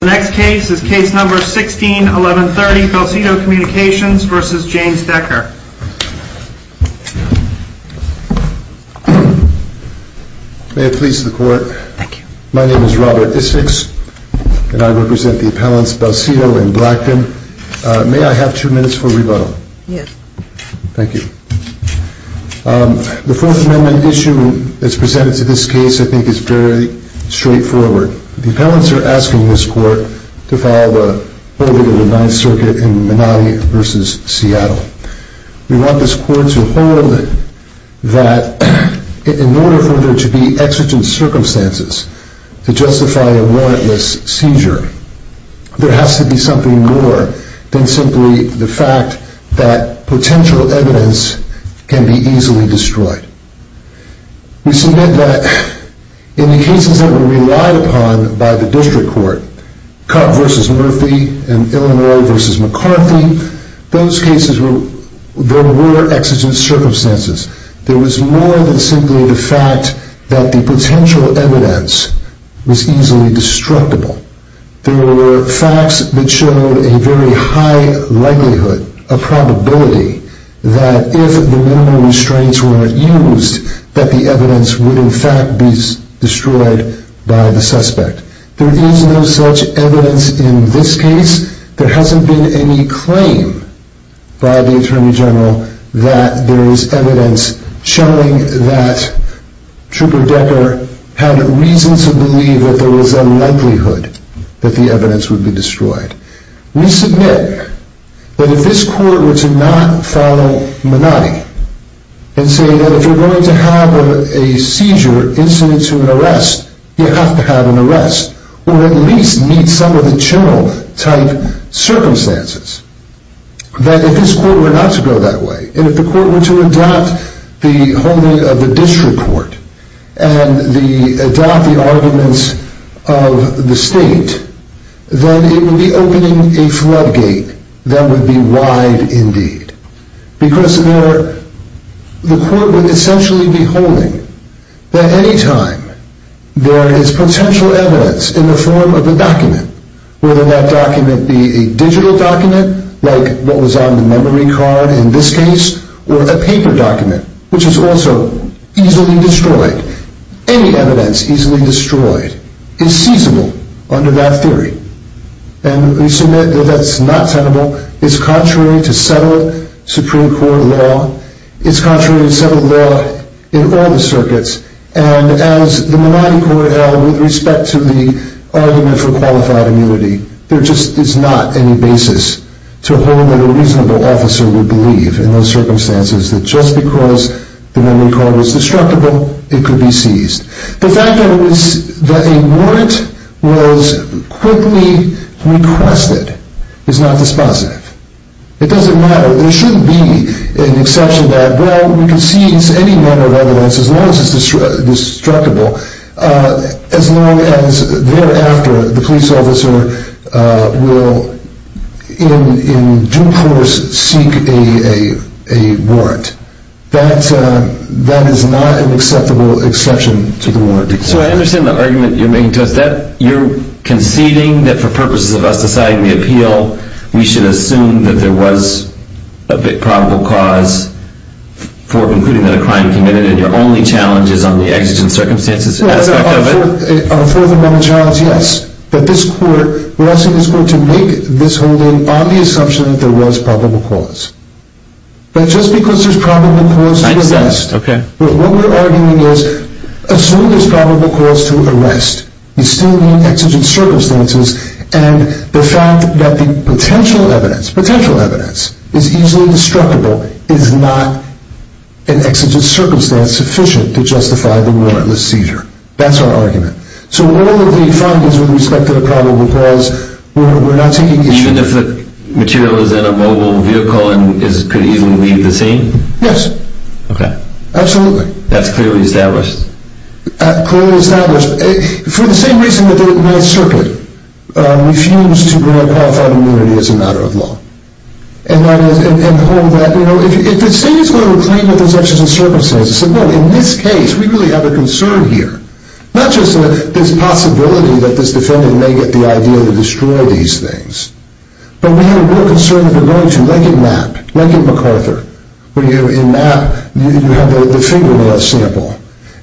The next case is Case No. 16-1130, Belsito Communications v. James Decker. May it please the Court. Thank you. My name is Robert Istix, and I represent the appellants Belsito and Blackton. May I have two minutes for rebuttal? Yes. Thank you. The Fourth Amendment issue that's presented to this case, I think, is very straightforward. The appellants are asking this Court to file a holding of the Ninth Circuit in Menotti v. Seattle. We want this Court to hold that in order for there to be exigent circumstances to justify a warrantless seizure, there has to be something more than simply the fact that potential evidence can be easily destroyed. We submit that in the cases that were relied upon by the District Court, Cutt v. Murphy and Illinois v. McCarthy, those cases, there were exigent circumstances. There was more than simply the fact that the potential evidence was easily destructible. There were facts that showed a very high likelihood, a probability, that if the minimum restraints were used, that the evidence would, in fact, be destroyed by the suspect. There is no such evidence in this case. There hasn't been any claim by the Attorney General that there is evidence showing that the evidence would be destroyed. We submit that if this Court were to not follow Menotti and say that if you're going to have a seizure incident to an arrest, you have to have an arrest, or at least meet some of the general type circumstances, that if this Court were not to go that way, and if the Court were to adopt the holding of the District Court and adopt the arguments of the State, then it would be opening a floodgate that would be wide indeed. Because the Court would essentially be holding that any time there is potential evidence in the form of a document, whether that document be a digital document, like what was on the memory card in this case, or a paper document, which is also easily destroyed. Any evidence easily destroyed is seizable under that theory. And we submit that that's not tenable. It's contrary to settled Supreme Court law. It's contrary to settled law in all the circuits. And as the Menotti Court held with respect to the argument for qualified immunity, there just is not any basis to hold that a reasonable officer would believe in those circumstances that just because the memory card was destructible, it could be seized. The fact that a warrant was quickly requested is not dispositive. It doesn't matter. There shouldn't be an exception that, well, we can seize any amount of evidence as long as it's destructible, as long as thereafter the police officer will in due course seek a warrant. That is not an acceptable exception to the warrant. So I understand the argument you're making to us. You're conceding that for purposes of us deciding the appeal, we should assume that there was a probable cause for concluding that a crime committed, and your only challenge is on the exigent circumstances aspect of it? Our fourth and final challenge, yes, that this court, we're asking this court to make this holding on the assumption that there was probable cause. But just because there's probable cause to arrest, what we're arguing is assume there's probable cause to arrest. You still need exigent circumstances, and the fact that the potential evidence, potential evidence, is easily destructible is not an exigent circumstance sufficient to justify the warrantless seizure. That's our argument. So all of the findings with respect to the probable cause, we're not taking issue. And if the material is in a mobile vehicle and could easily leave the scene? Yes. Okay. Absolutely. That's clearly established. Clearly established. For the same reason that the Ninth Circuit refused to grant qualified immunity as a matter of law, and hold that, you know, if the state is going to reclaim what those exigent circumstances say, well, in this case, we really have a concern here. Not just this possibility that this defendant may get the idea to destroy these things, but we have a real concern that they're going to. Like at MAP. Like at MacArthur. Where, you know, in MAP, you have the fingernail sample,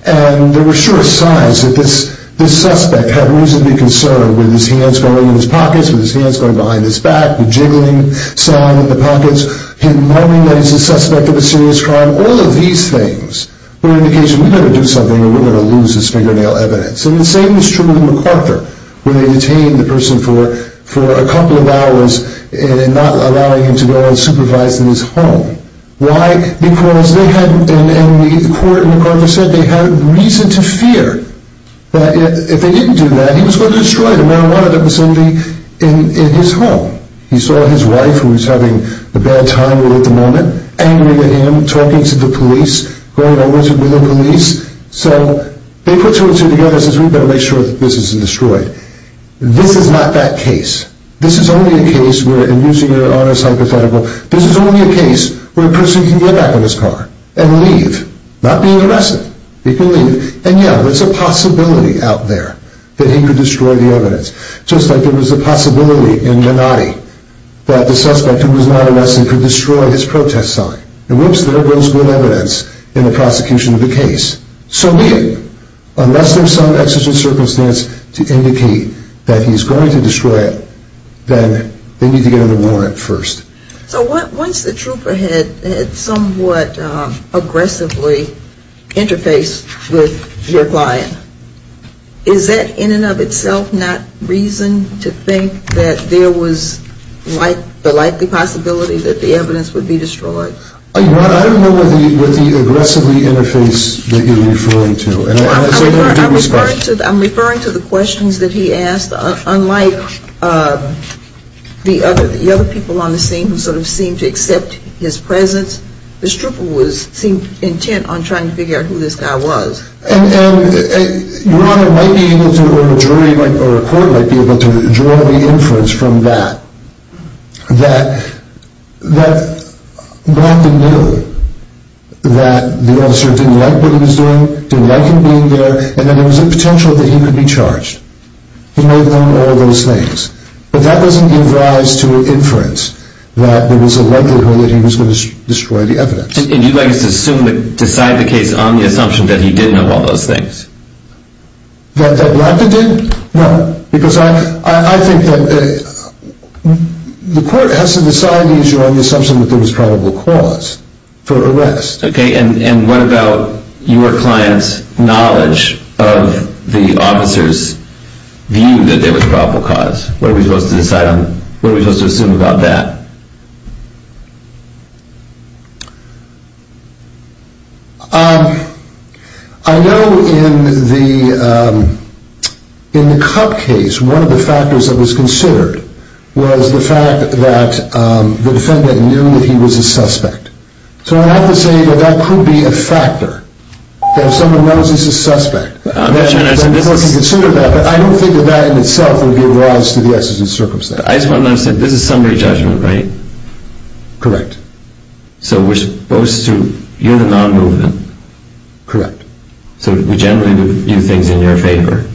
and there were sure signs that this suspect had reasonably concern with his hands going in his pockets, with his hands going behind his back, the jiggling sound in the pockets, him knowing that he's a suspect of a serious crime. All of these things were an indication, we've got to do something, or we're going to lose this fingernail evidence. And the same was true with MacArthur, where they detained the person for a couple of hours and not allowing him to go and supervise in his home. Why? Because they had, and the court at MacArthur said they had reason to fear that if they didn't do that, he was going to destroy the marijuana that was in his home. He saw his wife, who was having a bad time at the moment, angry at him, talking to the police, going over to the police. So they put two and two together and said, we've got to make sure that this isn't destroyed. This is not that case. This is only a case where, and using your honest hypothetical, this is only a case where a person can get back in his car and leave, not be arrested. They can leave. And yeah, there's a possibility out there that he could destroy the evidence. Just like there was a possibility in Minotti that the suspect, who was not arrested, could destroy his protest sign. And whoops, there goes good evidence in the prosecution of the case. So unless there's some existential circumstance to indicate that he's going to destroy it, then they need to get him a warrant first. So once the trooper had somewhat aggressively interfaced with your client, is that in and of itself not reason to think that there was the likely possibility that the evidence would be destroyed? I don't know what the aggressively interface that you're referring to. I'm referring to the questions that he asked, because unlike the other people on the scene who sort of seemed to accept his presence, this trooper seemed intent on trying to figure out who this guy was. And your Honor might be able to, or a jury or a court might be able to, draw the inference from that that Blanton knew that the officer didn't like what he was doing, didn't like him being there, and that there was a potential that he could be charged. He may have known all those things. But that doesn't give rise to an inference that there was a likelihood that he was going to destroy the evidence. And you'd like us to decide the case on the assumption that he did know all those things? That Blanton did? No. Because I think that the court has to decide the issue on the assumption that there was probable cause for arrest. Okay, and what about your client's knowledge of the officer's view that there was probable cause? What are we supposed to assume about that? I know in the Cup case, one of the factors that was considered was the fact that the defendant knew that he was a suspect. So I have to say that that could be a factor, that if someone knows he's a suspect, they're supposed to consider that. But I don't think that that in itself would give rise to the exigent circumstance. I just want to understand, this is summary judgment, right? Correct. So we're supposed to, you're the non-movement. Correct. So we generally view things in your favor?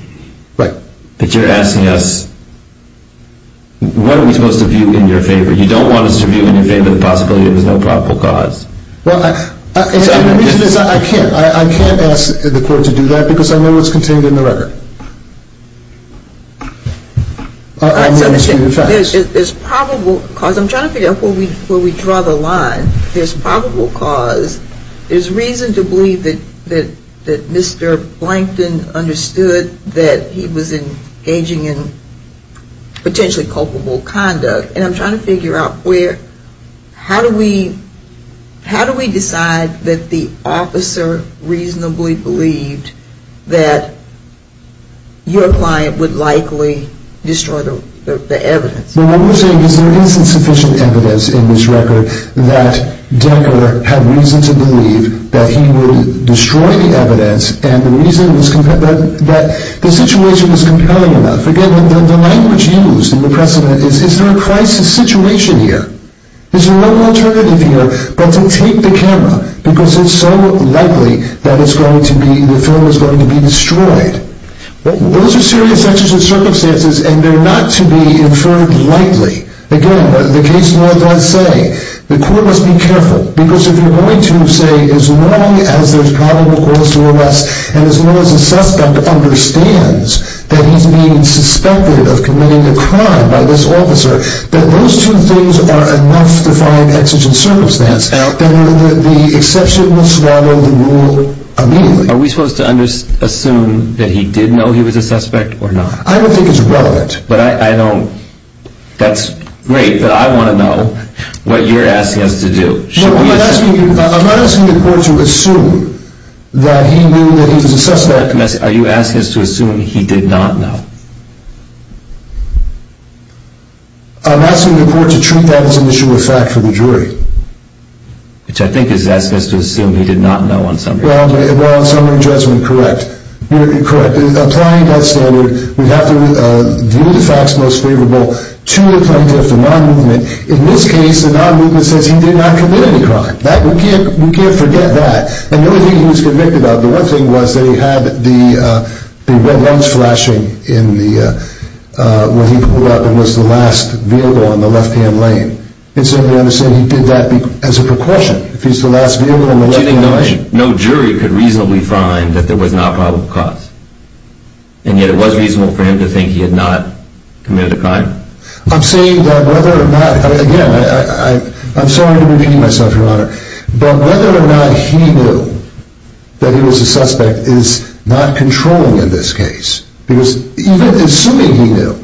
Right. But you're asking us, what are we supposed to view in your favor? You don't want us to view in your favor the possibility that there's no probable cause. Well, the reason is I can't ask the court to do that because I know what's contained in the record. There's probable cause. I'm trying to figure out where we draw the line. There's probable cause. There's reason to believe that Mr. Blanton understood that he was engaging in potentially culpable conduct. And I'm trying to figure out where, how do we decide that the officer reasonably believed that your client would likely destroy the evidence? Well, what we're saying is there isn't sufficient evidence in this record that Denker had reason to believe that he would destroy the evidence and the reason was that the situation was compelling enough. Again, the language used in the precedent is, is there a crisis situation here? Is there no alternative here but to take the camera because it's so likely that it's going to be, the film is going to be destroyed? Those are serious actions and circumstances and they're not to be inferred lightly. Again, the case law does say the court must be careful because if you're going to say as long as there's probable cause to arrest and as long as the suspect understands that he's being suspected of committing a crime by this officer, that those two things are enough to find exigent circumstance and the exception will swallow the rule immediately. Are we supposed to assume that he did know he was a suspect or not? I don't think it's relevant. But I don't, that's great, but I want to know what you're asking us to do. I'm not asking the court to assume that he knew that he was a suspect. Are you asking us to assume he did not know? I'm asking the court to treat that as an issue of fact for the jury. Which I think is asking us to assume he did not know on summary. Well, on summary judgment, correct. Correct. Applying that standard, we have to view the facts most favorable to the plaintiff, the non-movement. In this case, the non-movement says he did not commit any crime. We can't forget that. And the other thing he was convicted of, the one thing was that he had the red lungs flashing when he pulled up and was the last vehicle on the left-hand lane. And so we understand he did that as a precaution. If he's the last vehicle on the left-hand lane. So you think no jury could reasonably find that there was not probable cause? I'm saying that whether or not, again, I'm sorry to be beating myself, Your Honor, but whether or not he knew that he was a suspect is not controlling in this case. Because even assuming he knew,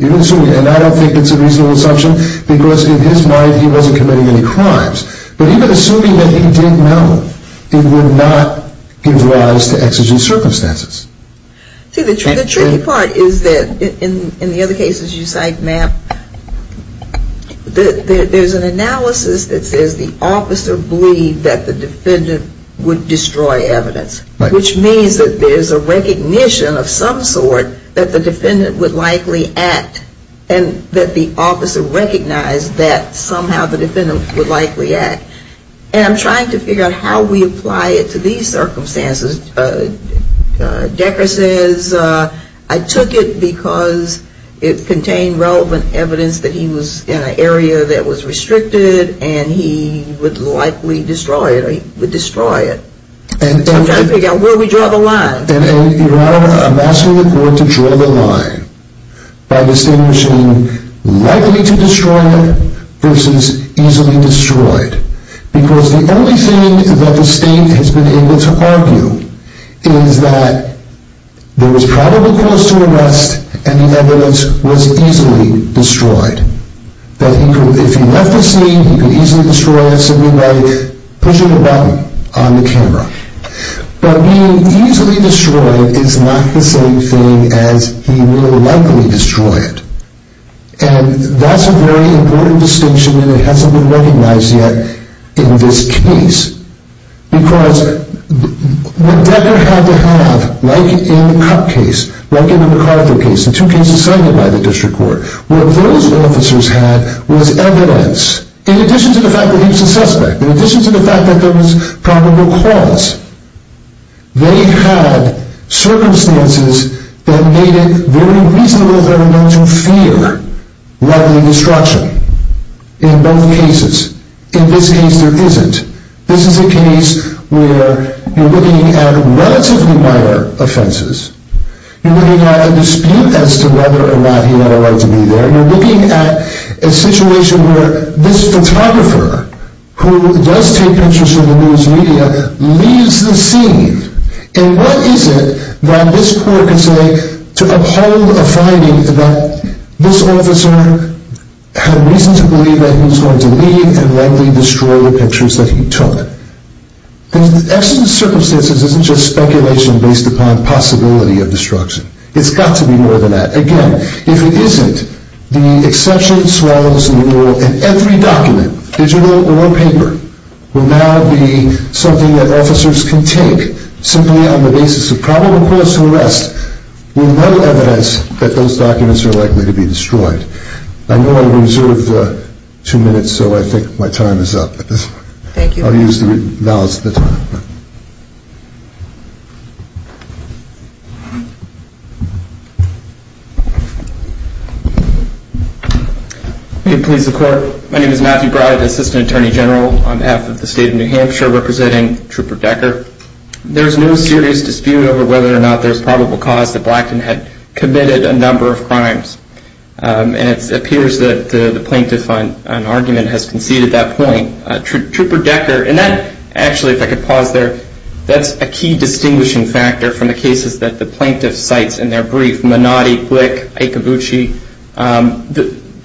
and I don't think it's a reasonable assumption, because in his mind he wasn't committing any crimes. But even assuming that he did know, it would not give rise to exigent circumstances. See, the tricky part is that in the other cases you cite, Matt, there's an analysis that says the officer believed that the defendant would destroy evidence. Right. Which means that there's a recognition of some sort that the defendant would likely act and that the officer recognized that somehow the defendant would likely act. And I'm trying to figure out how we apply it to these circumstances. Decker says, I took it because it contained relevant evidence that he was in an area that was restricted and he would likely destroy it, or he would destroy it. I'm trying to figure out where we draw the line. I'm asking the court to draw the line by distinguishing likely to destroy it versus easily destroyed. Because the only thing that the state has been able to argue is that there was probable cause to arrest and the evidence was easily destroyed. That if he left the scene, he could easily destroy it simply by pushing a button on the camera. But being easily destroyed is not the same thing as he will likely destroy it. And that's a very important distinction that hasn't been recognized yet in this case. Because what Decker had to have, like in the Cupp case, like in the McArthur case, the two cases cited by the district court, what those officers had was evidence, in addition to the fact that he was a suspect, in addition to the fact that there was probable cause. They had circumstances that made it very reasonable for them to fear likely destruction in both cases. In this case there isn't. This is a case where you're looking at relatively minor offenses. You're looking at a dispute as to whether or not he had a right to be there. You're looking at a situation where this photographer, who does take pictures for the news media, leaves the scene. And what is it that this court can say to uphold a finding that this officer had reason to believe that he was going to leave and likely destroy the pictures that he took. Because the extent of the circumstances isn't just speculation based upon possibility of destruction. It's got to be more than that. Again, if it isn't, the exception, swallows, and rule in every document, digital or paper, will now be something that officers can take simply on the basis of probable cause to arrest with no evidence that those documents are likely to be destroyed. I know I reserved two minutes, so I think my time is up. I'll use the balance of the time. May it please the Court. My name is Matthew Broward, Assistant Attorney General on behalf of the State of New Hampshire, representing Trooper Decker. There's no serious dispute over whether or not there's probable cause that Blackton had committed a number of crimes. And it appears that the plaintiff on argument has conceded that point. Trooper Decker, and that, actually, if I could pause there, that's a key distinguishing factor from the cases that the plaintiff cites in their brief, Menotti, Glick, Iacobucci.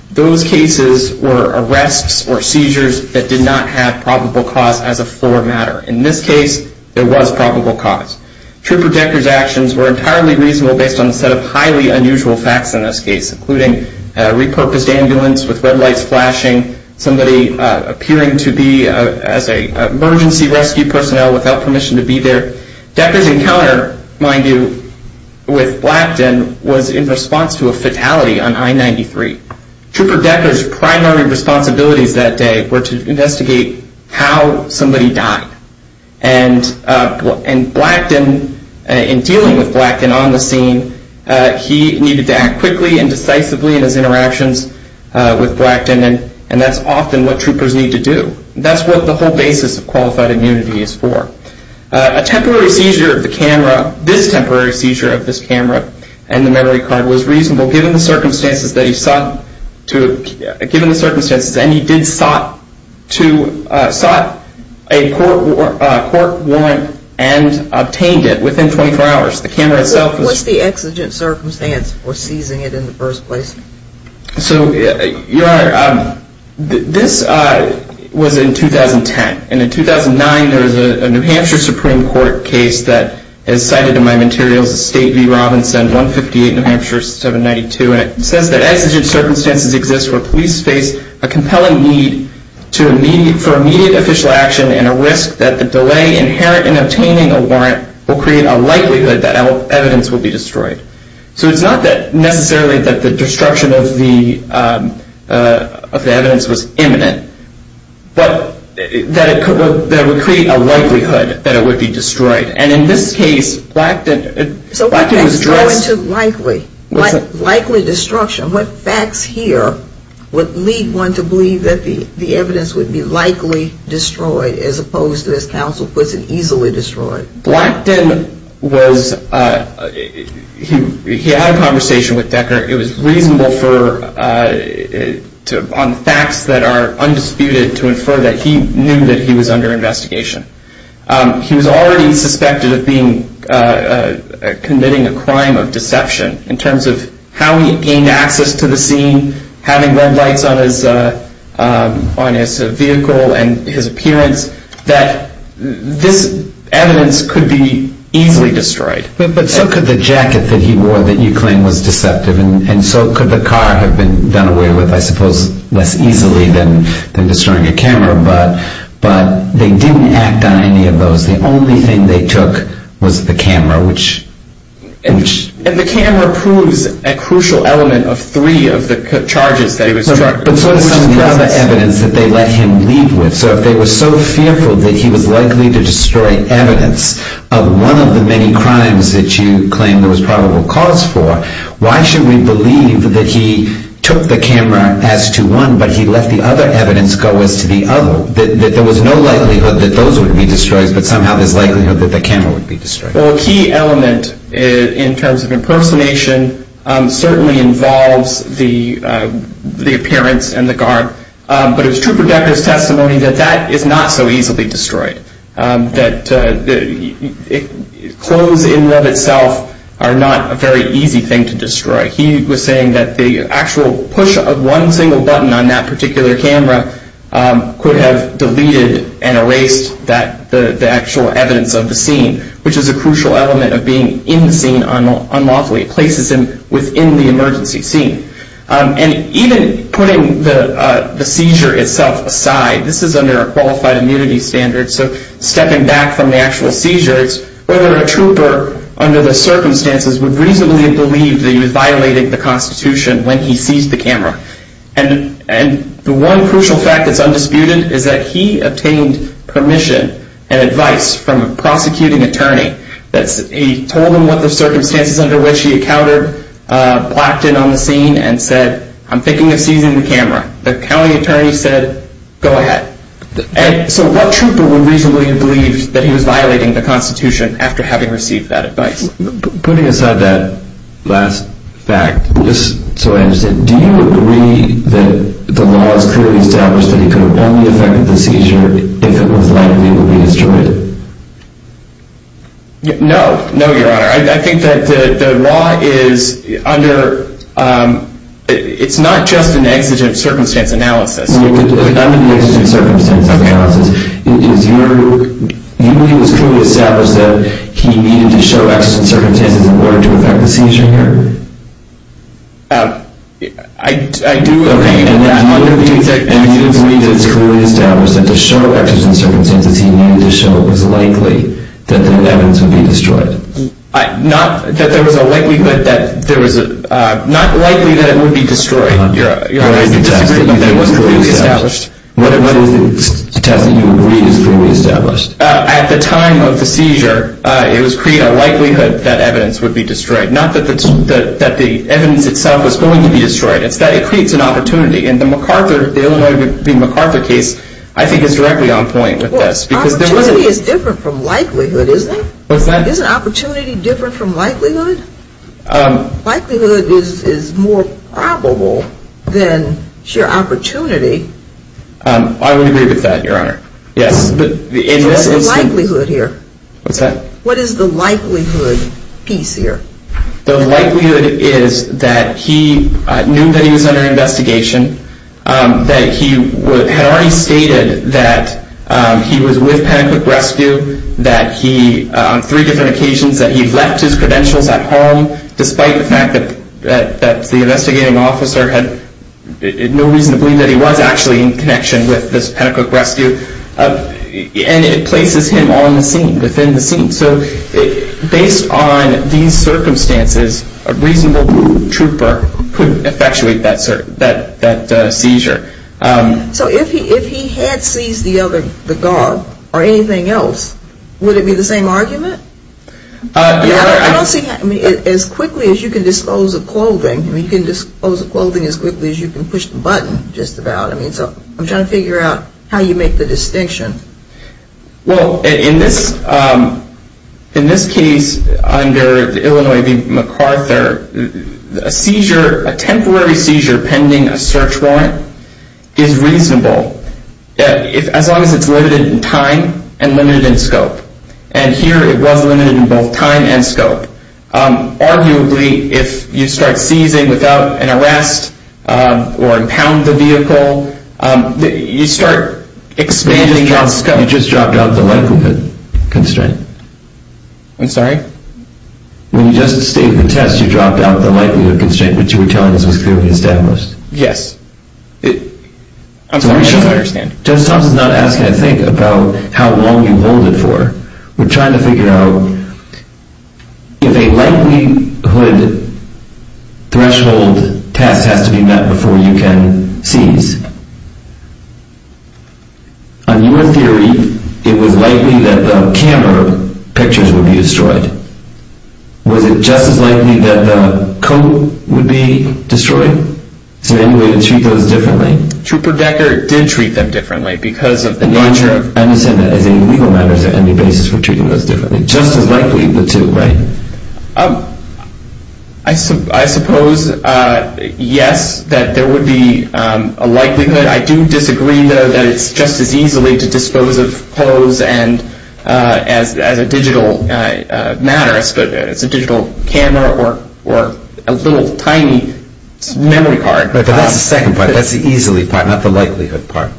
Those cases were arrests or seizures that did not have probable cause as a fore matter. In this case, there was probable cause. Trooper Decker's actions were entirely reasonable based on a set of highly unusual facts in this case, including a repurposed ambulance with red lights flashing, somebody appearing to be an emergency rescue personnel without permission to be there. Decker's encounter, mind you, with Blackton was in response to a fatality on I-93. Trooper Decker's primary responsibilities that day were to investigate how somebody died. And Blackton, in dealing with Blackton on the scene, he needed to act quickly and decisively in his interactions with Blackton, and that's often what troopers need to do. That's what the whole basis of qualified immunity is for. A temporary seizure of the camera, this temporary seizure of this camera and the memory card, was reasonable given the circumstances that he sought to, given the circumstances, and he did sought to, sought a court warrant and obtained it within 24 hours. The camera itself was- What's the exigent circumstance for seizing it in the first place? So, Your Honor, this was in 2010, and in 2009 there was a New Hampshire Supreme Court case that is cited in my materials, State v. Robinson, 158 New Hampshire 792, and it says that exigent circumstances exist where police face a compelling need for immediate official action and a risk that the delay inherent in obtaining a warrant will create a likelihood that evidence will be destroyed. So it's not necessarily that the destruction of the evidence was imminent, but that it would create a likelihood that it would be destroyed. And in this case, Blackton- So what facts go into likely? Likely destruction. What facts here would lead one to believe that the evidence would be likely destroyed as opposed to, as counsel puts it, easily destroyed? Blackton was, he had a conversation with Decker. It was reasonable for, on facts that are undisputed, to infer that he knew that he was under investigation. He was already suspected of committing a crime of deception in terms of how he gained access to the scene, having red lights on his vehicle and his appearance, that this evidence could be easily destroyed. But so could the jacket that he wore that you claim was deceptive, and so could the car have been done away with, I suppose, less easily than destroying a camera, but they didn't act on any of those. The only thing they took was the camera, which- And the camera proves a crucial element of three of the charges that he was charged with. But so does some of the other evidence that they let him lead with. So if they were so fearful that he was likely to destroy evidence of one of the many crimes that you claim there was probable cause for, why should we believe that he took the camera as to one, but he let the other evidence go as to the other, that there was no likelihood that those would be destroyed, but somehow there's likelihood that the camera would be destroyed? Well, a key element in terms of impersonation certainly involves the appearance and the garb, but it was Trooper Decker's testimony that that is not so easily destroyed, that clothes in and of itself are not a very easy thing to destroy. He was saying that the actual push of one single button on that particular camera could have deleted and erased the actual evidence of the scene, which is a crucial element of being in the scene unlawfully. It places him within the emergency scene. And even putting the seizure itself aside, this is under a qualified immunity standard, so stepping back from the actual seizure, whether a trooper under the circumstances would reasonably believe that he was violating the Constitution when he seized the camera. And the one crucial fact that's undisputed is that he obtained permission and advice from a prosecuting attorney that he told him what the circumstances under which he encountered blacked in on the scene and said, I'm thinking of seizing the camera. The county attorney said, go ahead. So what trooper would reasonably believe that he was violating the Constitution after having received that advice? Putting aside that last fact, do you agree that the law is clearly established that he could have only affected the seizure if it was likely to be destroyed? No, no, Your Honor. I think that the law is under, it's not just an exigent circumstance analysis. Not an exigent circumstance analysis. You believe it's clearly established that he needed to show exigent circumstances in order to affect the seizure here? I do. Okay. And you believe it's clearly established that to show exigent circumstances, he needed to show it was likely that the evidence would be destroyed? Not that there was a likelihood that there was a, not likely that it would be destroyed. Your Honor, I disagree with you. It wasn't clearly established. What is the test that you agree is clearly established? At the time of the seizure, it was clear likelihood that evidence would be destroyed. Not that the evidence itself was going to be destroyed. It's that it creates an opportunity. And the MacArthur, the Illinois v. MacArthur case, I think is directly on point with this. Opportunity is different from likelihood, isn't it? What's that? Isn't opportunity different from likelihood? Likelihood is more probable than sheer opportunity. I would agree with that, Your Honor. So what's the likelihood here? What's that? What is the likelihood piece here? The likelihood is that he knew that he was under investigation, that he had already stated that he was with Panic Quick Rescue, that he, on three different occasions, that he left his credentials at home, despite the fact that the investigating officer had no reason to believe that he was actually in connection with this Panic Quick Rescue. And it places him on the scene, within the scene. So based on these circumstances, a reasonable trooper could effectuate that seizure. So if he had seized the other dog or anything else, would it be the same argument? I don't see that. As quickly as you can dispose of clothing, you can dispose of clothing as quickly as you can push the button, just about. So I'm trying to figure out how you make the distinction. Well, in this case, under the Illinois v. MacArthur, a seizure, a temporary seizure pending a search warrant is reasonable, as long as it's limited in time and limited in scope. And here it was limited in both time and scope. Arguably, if you start seizing without an arrest or impound the vehicle, you start expanding on scope. You just dropped out of the likelihood constraint. I'm sorry? When you just stated the test, you dropped out of the likelihood constraint, which you were telling us was clearly established. Yes. I'm sorry, I don't understand. Judge Thompson's not asking a thing about how long you hold it for. We're trying to figure out if a likelihood threshold test has to be met before you can seize. On your theory, it was likely that the camera pictures would be destroyed. Was it just as likely that the coat would be destroyed? Is there any way to treat those differently? Trooper Decker did treat them differently because of the larger... I understand that. Is there any legal matters or any basis for treating those differently? Just as likely the two, right? I suppose, yes, that there would be a likelihood. I do disagree, though, that it's just as easily to dispose of clothes as a digital matter. It's a digital camera or a little tiny memory card. But that's the second part. That's the easily part, not the likelihood part.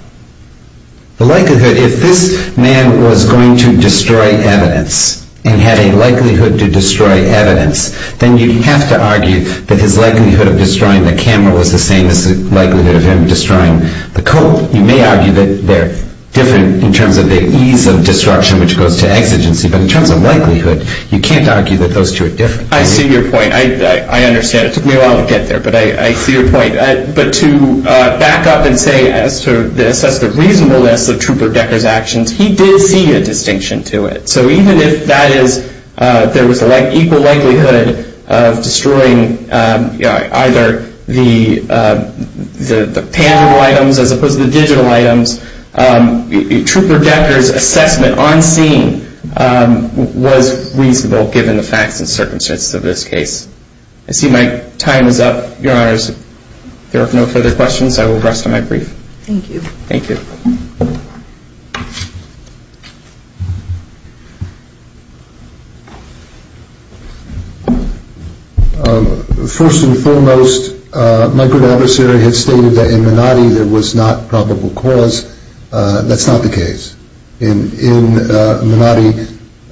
The likelihood, if this man was going to destroy evidence and had a likelihood to destroy evidence, then you'd have to argue that his likelihood of destroying the camera was the same as the likelihood of him destroying the coat. You may argue that they're different in terms of the ease of destruction, which goes to exigency. But in terms of likelihood, you can't argue that those two are different. I see your point. I understand. It took me a while to get there, but I see your point. But to back up and say, as to assess the reasonableness of Trooper Decker's actions, he did see a distinction to it. So even if there was an equal likelihood of destroying either the panel items as opposed to the digital items, Trooper Decker's assessment on scene was reasonable, given the facts and circumstances of this case. I see my time is up, Your Honors. If there are no further questions, I will rest on my brief. Thank you. Thank you. First and foremost, my good adversary has stated that in Manatee there was not probable cause. That's not the case. In Manatee,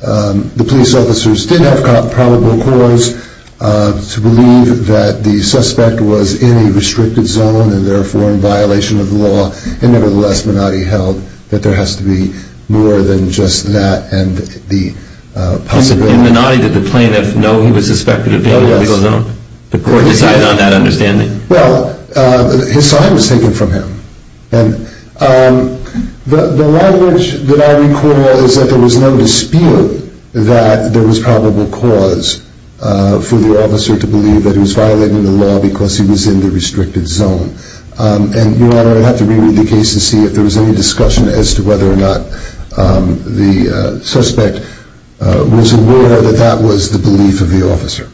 the police officers did have probable cause. To believe that the suspect was in a restricted zone and therefore in violation of the law, and nevertheless Manatee held that there has to be more than just that and the possibility. In Manatee, did the plaintiff know he was suspected of being in a legal zone? Oh, yes. The court decided on that understanding? Well, his time was taken from him. The language that I recall is that there was no dispute that there was probable cause for the officer to believe that he was violating the law because he was in the restricted zone. And, Your Honor, I'd have to re-read the case to see if there was any discussion as to whether or not the suspect was aware that that was the belief of the officer.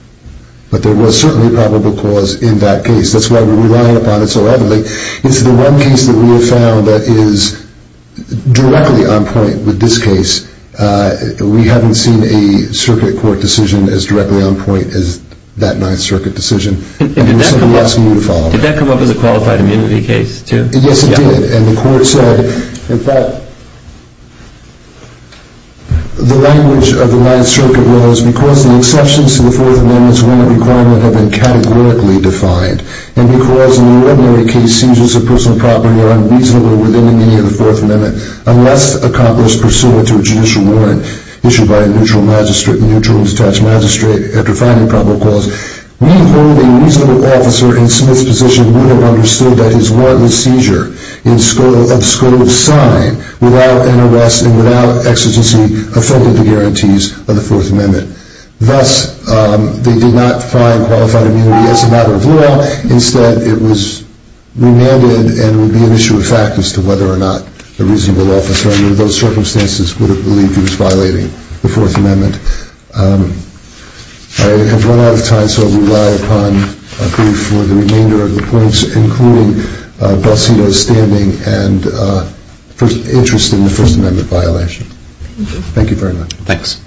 But there was certainly probable cause in that case. That's why we're relying upon it so heavily. It's the one case that we have found that is directly on point with this case. We haven't seen a circuit court decision as directly on point as that Ninth Circuit decision. And we're simply asking you to follow up. Did that come up as a qualified immunity case, too? Yes, it did. And the court said that the language of the Ninth Circuit was because the exceptions to the Fourth Amendment's are unreasonable within the meaning of the Fourth Amendment, unless accomplished pursuant to a judicial warrant issued by a neutral magistrate, a neutral and detached magistrate, after finding probable cause. We believe a reasonable officer in Smith's position would have understood that his warrantless seizure of the scope of sign without an arrest and without exigency affected the guarantees of the Fourth Amendment. Instead, it was remanded and would be an issue of fact as to whether or not a reasonable officer under those circumstances would have believed he was violating the Fourth Amendment. I have run out of time, so I'll rely upon a brief for the remainder of the points, including Balsino's standing and interest in the First Amendment violation. Thank you very much. Thanks.